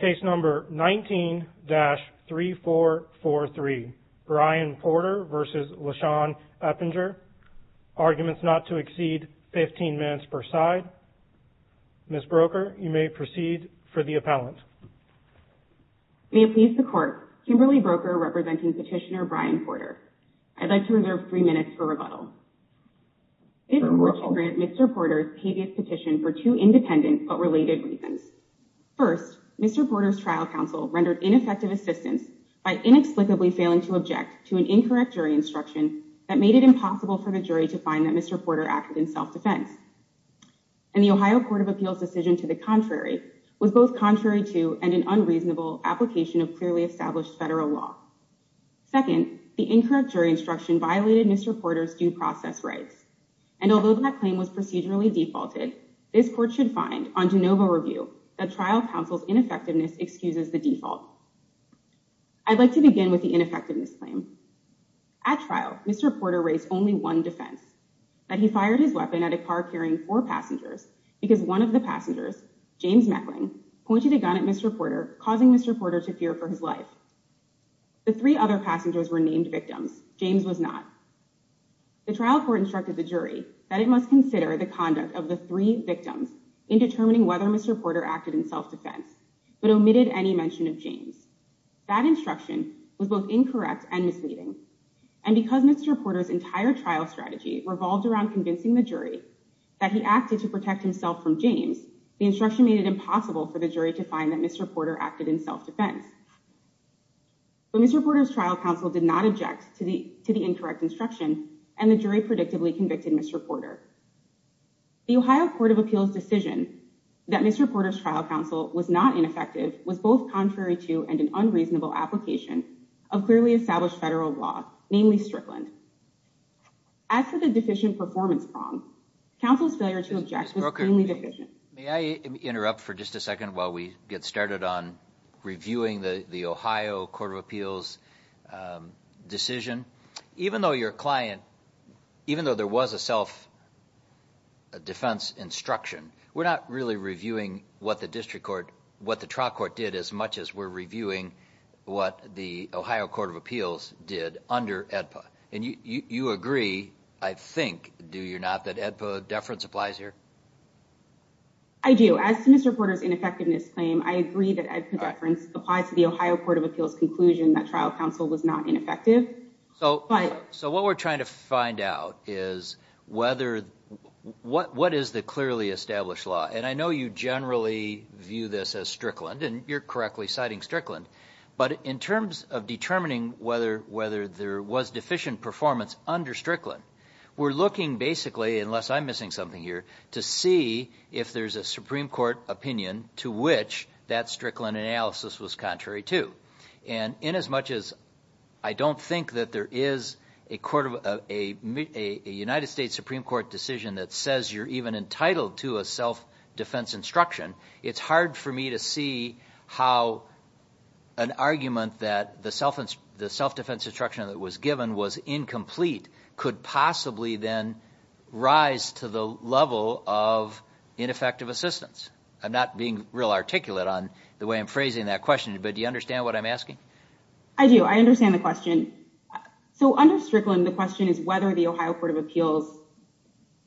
Case No. 19-3443 Brian Porter v. LaShann Eppinger Arguments not to exceed 15 minutes per side Ms. Broker, you may proceed for the appellant May it please the Court, Kimberly Broker representing petitioner Brian Porter I'd like to reserve three minutes for rebuttal This court should grant Mr. Porter's pevious petition for two independent but related reasons First, Mr. Porter's trial counsel rendered ineffective assistance by inexplicably failing to object to an incorrect jury instruction that made it impossible for the jury to find that Mr. Porter acted in self-defense And the Ohio Court of Appeals' decision to the contrary was both contrary to and an unreasonable application of clearly established federal law Second, the incorrect jury instruction violated Mr. Porter's due process rights And although that claim was procedurally defaulted this court should find, on de novo review, that trial counsel's ineffectiveness excuses the default I'd like to begin with the ineffectiveness claim At trial, Mr. Porter raised only one defense that he fired his weapon at a car carrying four passengers because one of the passengers, James Meckling, pointed a gun at Mr. Porter causing Mr. Porter to fear for his life The three other passengers were named victims. James was not The trial court instructed the jury that it must consider the conduct of the three victims in determining whether Mr. Porter acted in self-defense but omitted any mention of James That instruction was both incorrect and misleading And because Mr. Porter's entire trial strategy revolved around convincing the jury that he acted to protect himself from James the instruction made it impossible for the jury to find that Mr. Porter acted in self-defense But Mr. Porter's trial counsel did not object to the incorrect instruction and the jury predictably convicted Mr. Porter The Ohio Court of Appeals' decision that Mr. Porter's trial counsel was not ineffective was both contrary to and an unreasonable application of clearly established federal law, namely Strickland As for the deficient performance prong, counsel's failure to object was plainly deficient May I interrupt for just a second while we get started on reviewing the Ohio Court of Appeals' decision? Even though your client, even though there was a self-defense instruction we're not really reviewing what the district court, what the trial court did as much as we're reviewing what the Ohio Court of Appeals did under AEDPA And you agree, I think, do you not, that AEDPA deference applies here? I do. As to Mr. Porter's ineffectiveness claim, I agree that AEDPA deference applies to the Ohio Court of Appeals' conclusion that trial counsel was not ineffective So what we're trying to find out is whether, what is the clearly established law? And I know you generally view this as Strickland, and you're correctly citing Strickland But in terms of determining whether there was deficient performance under Strickland we're looking basically, unless I'm missing something here, to see if there's a Supreme Court opinion to which that Strickland analysis was contrary to And inasmuch as I don't think that there is a United States Supreme Court decision that says you're even entitled to a self-defense instruction it's hard for me to see how an argument that the self-defense instruction that was given was incomplete could possibly then rise to the level of ineffective assistance I'm not being real articulate on the way I'm phrasing that question, but do you understand what I'm asking? I do. I understand the question. So under Strickland, the question is whether the Ohio Court of Appeals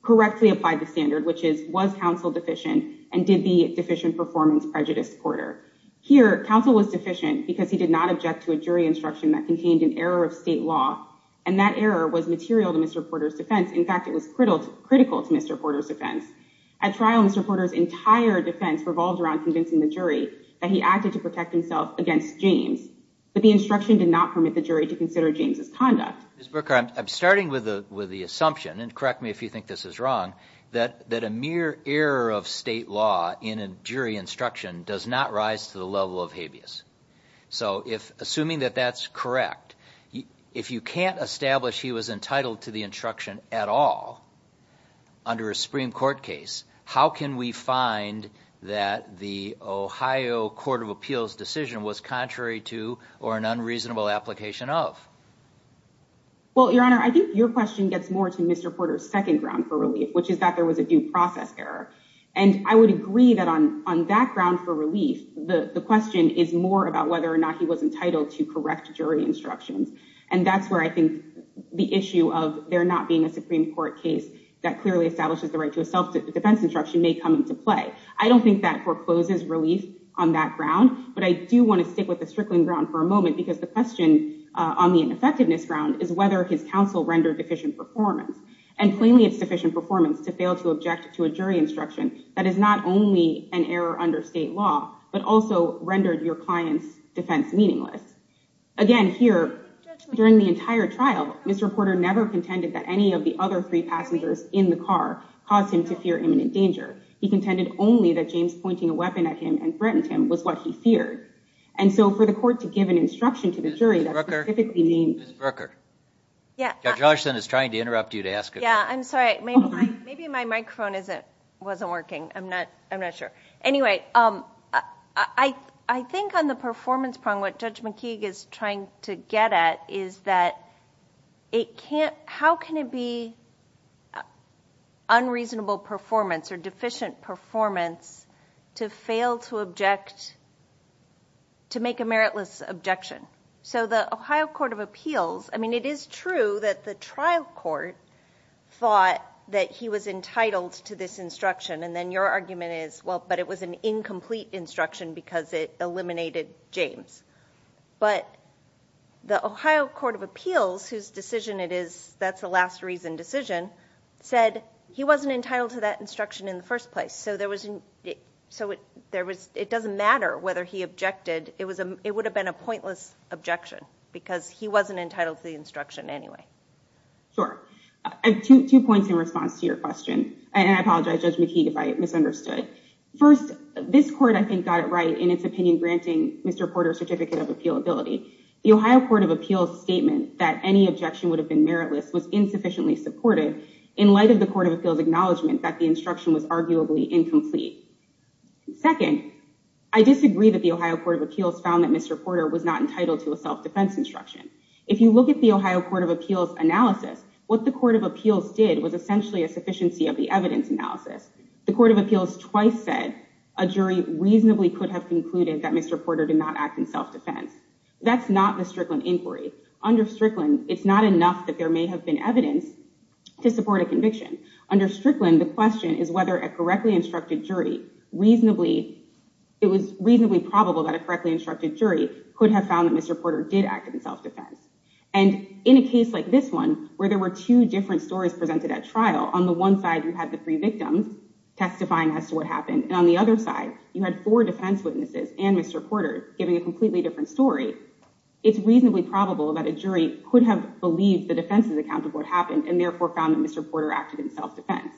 correctly applied the standard, which is, was counsel deficient, and did the deficient performance prejudice Porter? Here, counsel was deficient because he did not object to a jury instruction that contained an error of state law And that error was material to Mr. Porter's defense. In fact, it was critical to Mr. Porter's defense At trial, Mr. Porter's entire defense revolved around convincing the jury that he acted to protect himself against James But the instruction did not permit the jury to consider James' conduct Ms. Burkhart, I'm starting with the assumption, and correct me if you think this is wrong that a mere error of state law in a jury instruction does not rise to the level of habeas So assuming that that's correct, if you can't establish he was entitled to the instruction at all under a Supreme Court case, how can we find that the Ohio Court of Appeals decision was contrary to or an unreasonable application of? Well, Your Honor, I think your question gets more to Mr. Porter's second ground for relief which is that there was a due process error And I would agree that on that ground for relief, the question is more about whether or not he was entitled to correct jury instructions And that's where I think the issue of there not being a Supreme Court case that clearly establishes the right to a self-defense instruction may come into play I don't think that forecloses relief on that ground, but I do want to stick with the strickling ground for a moment because the question on the ineffectiveness ground is whether his counsel rendered deficient performance And plainly it's deficient performance to fail to object to a jury instruction that is not only an error under state law but also rendered your client's defense meaningless Again, here, during the entire trial, Mr. Porter never contended that any of the other three passengers in the car caused him to fear imminent danger He contended only that James pointing a weapon at him and threatened him was what he feared And so for the court to give an instruction to the jury that specifically named... Ms. Berker? Yeah Judge Osherston is trying to interrupt you to ask a question Yeah, I'm sorry. Maybe my microphone wasn't working. I'm not sure Anyway, I think on the performance problem, what Judge McKeague is trying to get at is that How can it be unreasonable performance or deficient performance to fail to object, to make a meritless objection? So the Ohio Court of Appeals, I mean, it is true that the trial court thought that he was entitled to this instruction And then your argument is, well, but it was an incomplete instruction because it eliminated James But the Ohio Court of Appeals, whose decision it is, that's the last reason decision, said he wasn't entitled to that instruction in the first place So it doesn't matter whether he objected. It would have been a pointless objection because he wasn't entitled to the instruction anyway Sure. I have two points in response to your question. And I apologize, Judge McKeague, if I misunderstood First, this court, I think, got it right in its opinion, granting Mr. Porter certificate of appealability The Ohio Court of Appeals statement that any objection would have been meritless was insufficiently supportive In light of the Court of Appeals acknowledgement that the instruction was arguably incomplete Second, I disagree that the Ohio Court of Appeals found that Mr. Porter was not entitled to a self-defense instruction If you look at the Ohio Court of Appeals analysis, what the Court of Appeals did was essentially a sufficiency of the evidence analysis The Court of Appeals twice said a jury reasonably could have concluded that Mr. Porter did not act in self-defense That's not the Strickland inquiry. Under Strickland, it's not enough that there may have been evidence to support a conviction Under Strickland, the question is whether a correctly instructed jury reasonably It was reasonably probable that a correctly instructed jury could have found that Mr. Porter did act in self-defense And in a case like this one, where there were two different stories presented at trial On the one side, you had the three victims testifying as to what happened And on the other side, you had four defense witnesses and Mr. Porter giving a completely different story It's reasonably probable that a jury could have believed the defense's account of what happened And therefore found that Mr. Porter acted in self-defense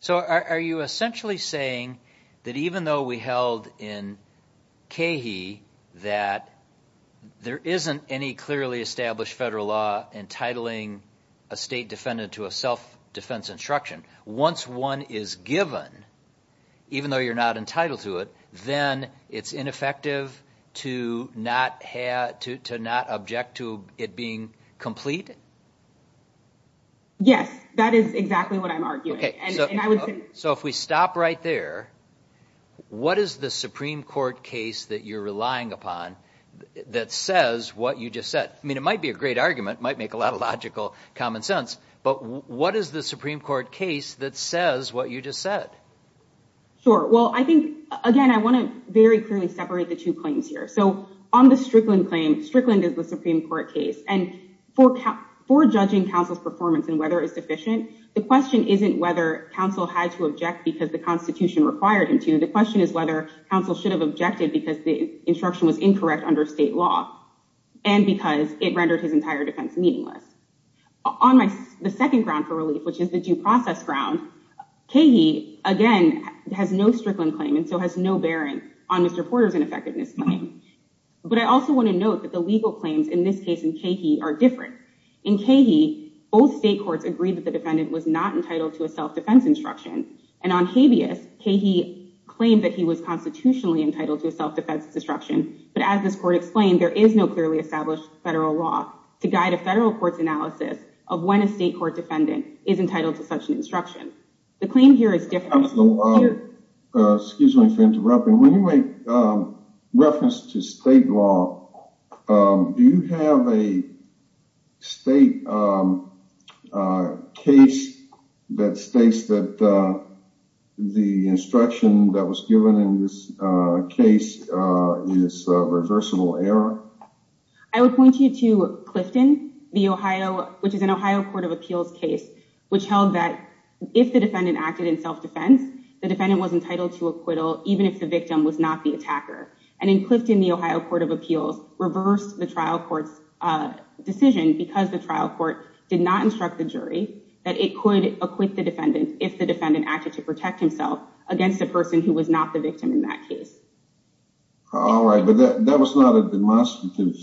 So are you essentially saying that even though we held in CAHIE that there isn't any clearly established federal law entitling a state defendant to a self-defense instruction Once one is given, even though you're not entitled to it, then it's ineffective to not object to it being complete? Yes, that is exactly what I'm arguing So if we stop right there, what is the Supreme Court case that you're relying upon that says what you just said? I mean, it might be a great argument, might make a lot of logical common sense But what is the Supreme Court case that says what you just said? Sure. Well, I think, again, I want to very clearly separate the two claims here So on the Strickland claim, Strickland is the Supreme Court case And for judging counsel's performance and whether it's sufficient, the question isn't whether counsel had to object because the Constitution required him to The question is whether counsel should have objected because the instruction was incorrect under state law and because it rendered his entire defense meaningless On the second ground for relief, which is the due process ground, CAHIE, again, has no Strickland claim and so has no bearing on Mr. Porter's ineffectiveness claim But I also want to note that the legal claims in this case in CAHIE are different In CAHIE, both state courts agreed that the defendant was not entitled to a self-defense instruction And on Habeas, CAHIE claimed that he was constitutionally entitled to a self-defense instruction But as this court explained, there is no clearly established federal law to guide a federal court's analysis of when a state court defendant is entitled to such an instruction The claim here is different Excuse me for interrupting. When you make reference to state law, do you have a state case that states that the instruction that was given in this case is reversible error? I would point you to Clifton, which is an Ohio Court of Appeals case, which held that if the defendant acted in self-defense, the defendant was entitled to acquittal even if the victim was not the attacker And in Clifton, the Ohio Court of Appeals reversed the trial court's decision because the trial court did not instruct the jury that it could acquit the defendant if the defendant acted to protect himself against the person who was not the victim in that case All right, but that was not a demonstrative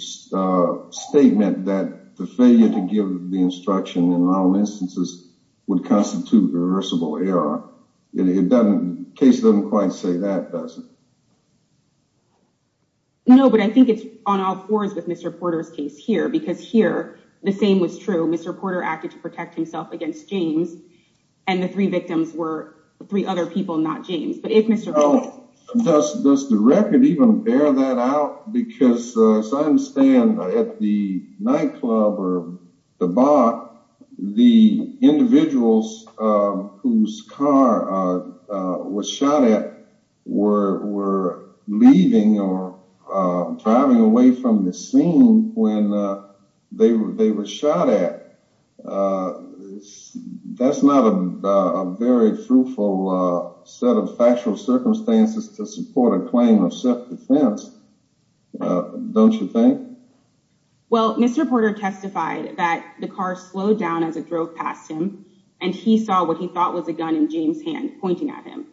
statement that the failure to give the instruction in all instances would constitute reversible error. The case doesn't quite say that, does it? No, but I think it's on all fours with Mr. Porter's case here, because here, the same was true. Mr. Porter acted to protect himself against James, and the three victims were three other people, not James Does the record even bear that out? Because as I understand, at the nightclub or the bar, the individuals whose car was shot at were leaving or driving away from the scene when they were shot at That's not a very fruitful set of factual circumstances to support a claim of self-defense, don't you think? Well, Mr. Porter testified that the car slowed down as it drove past him, and he saw what he thought was a gun in James' hand pointing at him.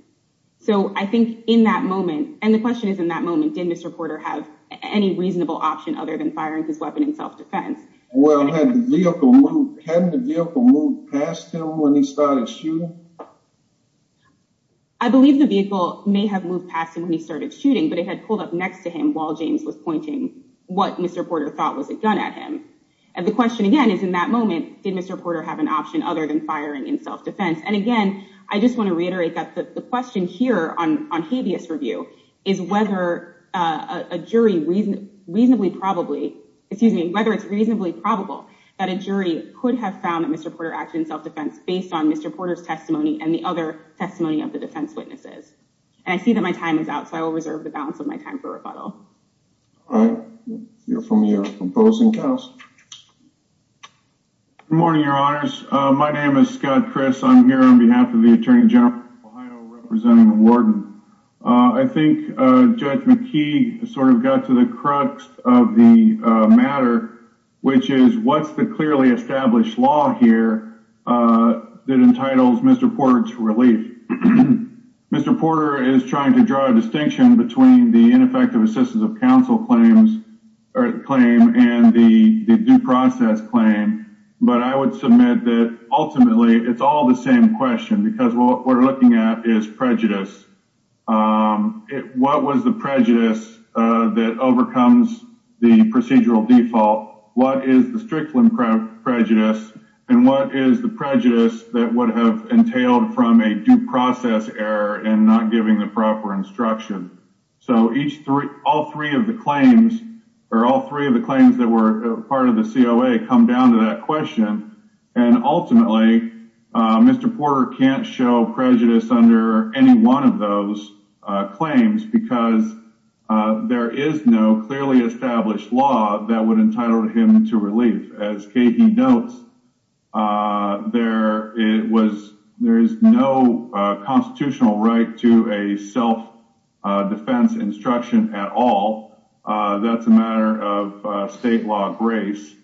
So I think in that moment, and the question is in that moment, did Mr. Porter have any reasonable option other than firing his weapon in self-defense? Well, hadn't the vehicle moved past him when he started shooting? I believe the vehicle may have moved past him when he started shooting, but it had pulled up next to him while James was pointing what Mr. Porter thought was a gun at him. And the question again is in that moment, did Mr. Porter have an option other than firing in self-defense? And again, I just want to reiterate that the question here on habeas review is whether a jury reasonably probably, excuse me, whether it's reasonably probable that a jury could have found that Mr. Porter acted in self-defense based on Mr. Porter's testimony and the other testimony of the defense witnesses. And I see that my time is out, so I will reserve the balance of my time for rebuttal. All right. You're from your opposing cast. Good morning, your honors. My name is Scott Chris. I'm here on behalf of the attorney general representing the warden. I think Judge McKee sort of got to the crux of the matter, which is what's the clearly established law here that entitles Mr. Porter to relief? Mr. Porter is trying to draw a distinction between the ineffective assistance of counsel claims or claim and the due process claim. But I would submit that ultimately it's all the same question, because what we're looking at is prejudice. What was the prejudice that overcomes the procedural default? What is the strict prejudice? And what is the prejudice that would have entailed from a due process error and not giving the proper instruction? So all three of the claims or all three of the claims that were part of the COA come down to that question. And ultimately, Mr. Porter can't show prejudice under any one of those claims because there is no clearly established law that would entitle him to relief. As he notes, there was there is no constitutional right to a self-defense instruction at all. That's a matter of state law grace.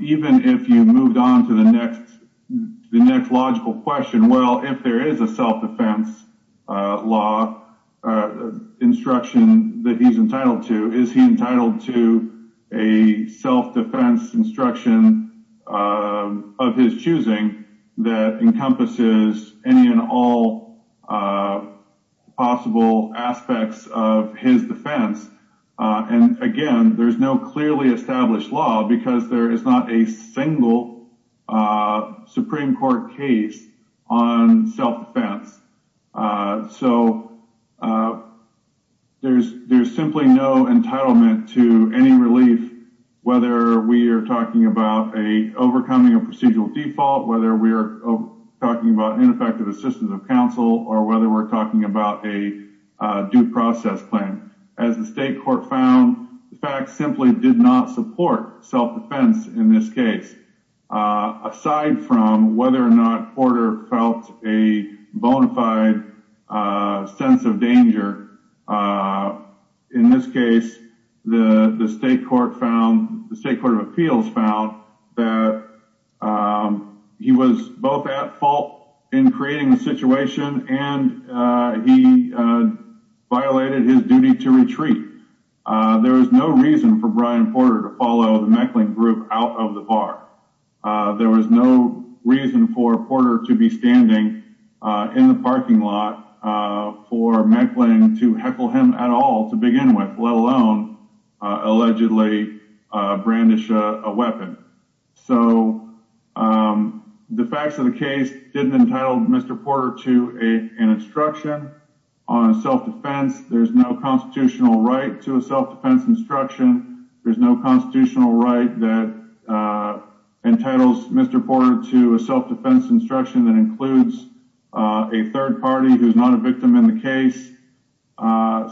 Even if you moved on to the next, the next logical question, well, if there is a self-defense law instruction that he's entitled to, is he entitled to a self-defense instruction of his choosing that encompasses any and all possible aspects of his defense? And again, there's no clearly established law because there is not a single Supreme Court case on self-defense. So there's there's simply no entitlement to any relief, whether we are talking about a overcoming a procedural default, whether we are talking about ineffective assistance of counsel or whether we're talking about a due process claim. As the state court found, the facts simply did not support self-defense in this case, aside from whether or not Porter felt a bona fide sense of danger. In this case, the state court found the state court of appeals found that he was both at fault in creating the situation and he violated his duty to retreat. There is no reason for Brian Porter to follow the Meckling group out of the bar. There was no reason for Porter to be standing in the parking lot for Meckling to heckle him at all to begin with, let alone allegedly brandish a weapon. So the facts of the case didn't entitle Mr. Porter to a an instruction on self-defense. There's no constitutional right to a self-defense instruction. There's no constitutional right that entitles Mr. Porter to a self-defense instruction that includes a third party who's not a victim in the case.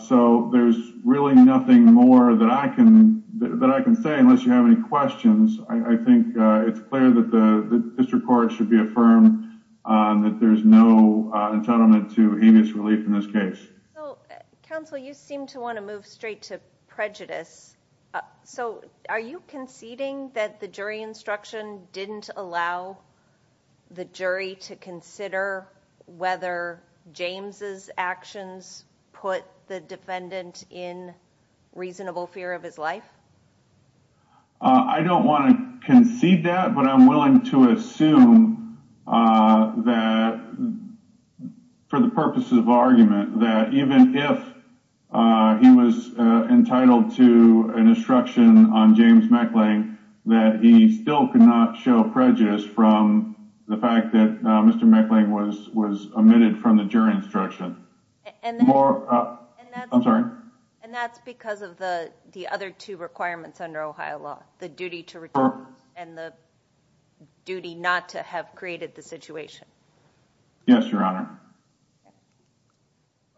So there's really nothing more that I can that I can say unless you have any questions. I think it's clear that the district court should be affirmed that there's no entitlement to habeas relief in this case. Counsel, you seem to want to move straight to prejudice. So are you conceding that the jury instruction didn't allow the jury to consider whether James's actions put the defendant in reasonable fear of his life? I don't want to concede that, but I'm willing to assume that for the purposes of argument, that even if he was entitled to an instruction on James Meckling, that he still could not show prejudice from the fact that Mr. Meckling was was omitted from the jury instruction. I'm sorry. And that's because of the other two requirements under Ohio law, the duty to return and the duty not to have created the situation. Yes, Your Honor.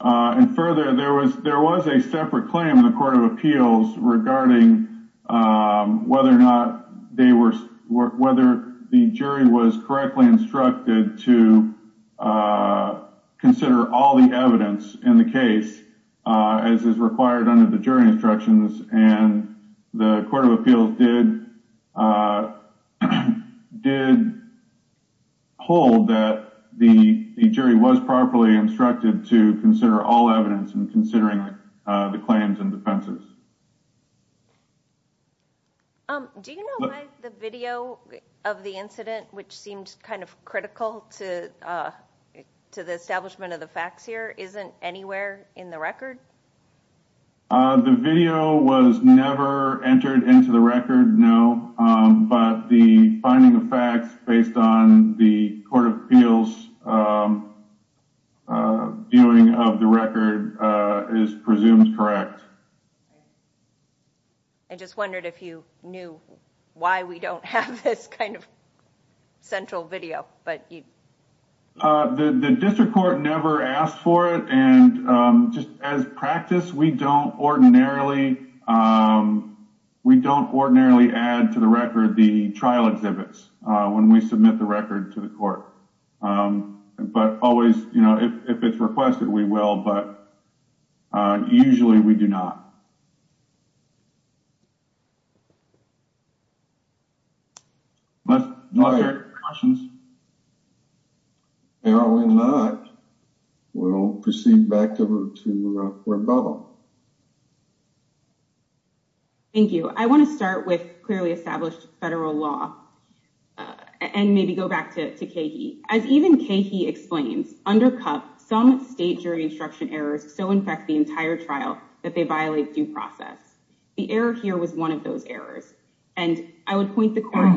And further, there was there was a separate claim in the court of appeals regarding whether or not they were whether the jury was correctly instructed to consider all the evidence in the case, as is required under the jury instructions. And the court of appeals did did hold that the jury was properly instructed to consider all evidence and considering the claims and defenses. Do you know why the video of the incident, which seems kind of critical to to the establishment of the facts here, isn't anywhere in the record? The video was never entered into the record. No. But the finding of facts based on the court of appeals viewing of the record is presumed correct. I just wondered if you knew why we don't have this kind of central video. The district court never asked for it. And just as practice, we don't ordinarily we don't ordinarily add to the record the trial exhibits when we submit the record to the court. But always, if it's requested, we will. But usually we do not. But no questions. No, we're not. We don't proceed back to where we're about. Thank you. I want to start with clearly established federal law and maybe go back to Katie as even Katie explains, undercut some state jury instruction errors. So, in fact, the entire trial that they violate due process, the error here was one of those errors. And I would point the court.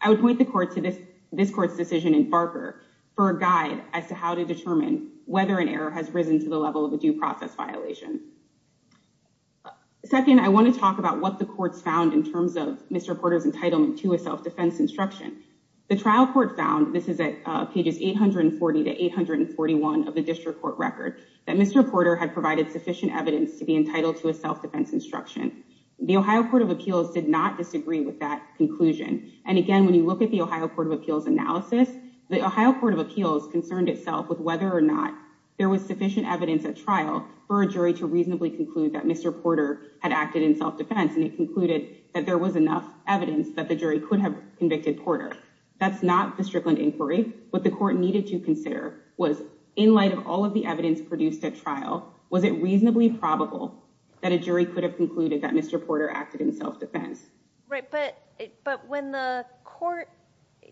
I would point the court to this. This court's decision in Barker for a guide as to how to determine whether an error has risen to the level of a due process violation. Second, I want to talk about what the courts found in terms of Mr. Porter's entitlement to a self-defense instruction. The trial court found this is at pages 840 to 841 of the district court record that Mr. Porter had provided sufficient evidence to be entitled to a self-defense instruction. The Ohio Court of Appeals did not disagree with that conclusion. And again, when you look at the Ohio Court of Appeals analysis, the Ohio Court of Appeals concerned itself with whether or not there was sufficient evidence at trial for a jury to reasonably conclude that Mr. So, the court found that there was enough evidence that the jury could have convicted Porter. That's not the Strickland inquiry. What the court needed to consider was in light of all of the evidence produced at trial, was it reasonably probable that a jury could have concluded that Mr. Porter acted in self-defense? Right, but when the court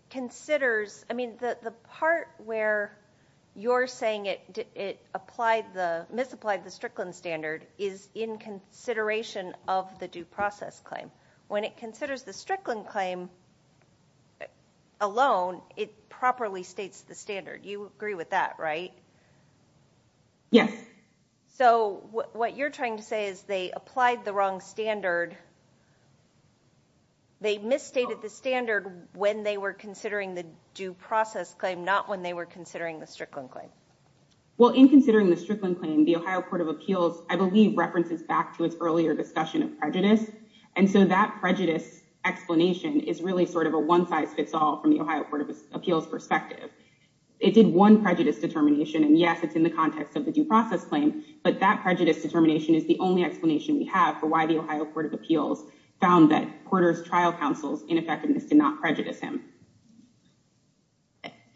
considers, I mean, the part where you're saying it misapplied the Strickland standard is in consideration of the due process claim. When it considers the Strickland claim alone, it properly states the standard. You agree with that, right? Yes. So, what you're trying to say is they applied the wrong standard. They misstated the standard when they were considering the due process claim, not when they were considering the Strickland claim. Well, in considering the Strickland claim, the Ohio Court of Appeals, I believe, references back to its earlier discussion of prejudice. And so that prejudice explanation is really sort of a one size fits all from the Ohio Court of Appeals perspective. It did one prejudice determination, and yes, it's in the context of the due process claim, but that prejudice determination is the only explanation we have for why the Ohio Court of Appeals found that Porter's trial counsel's ineffectiveness did not prejudice him.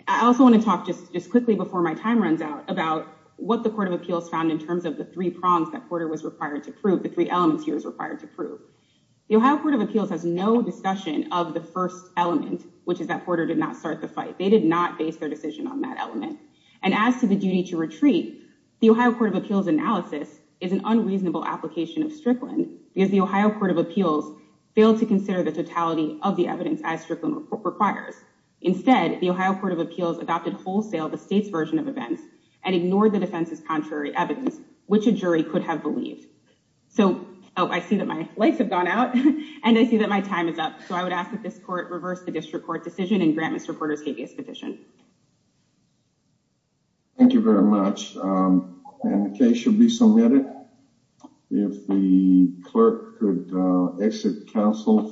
I also want to talk just quickly before my time runs out about what the Court of Appeals found in terms of the three prongs that Porter was required to prove, the three elements he was required to prove. The Ohio Court of Appeals has no discussion of the first element, which is that Porter did not start the fight. They did not base their decision on that element. And as to the duty to retreat, the Ohio Court of Appeals analysis is an unreasonable application of Strickland because the Ohio Court of Appeals failed to consider the totality of the evidence as Strickland requires. Instead, the Ohio Court of Appeals adopted wholesale the state's version of events and ignored the defense's contrary evidence, which a jury could have believed. So, I see that my lights have gone out, and I see that my time is up. So I would ask that this court reverse the district court decision and grant Mr. Porter's habeas petition. Thank you very much. And the case should be submitted. If the clerk could exit council.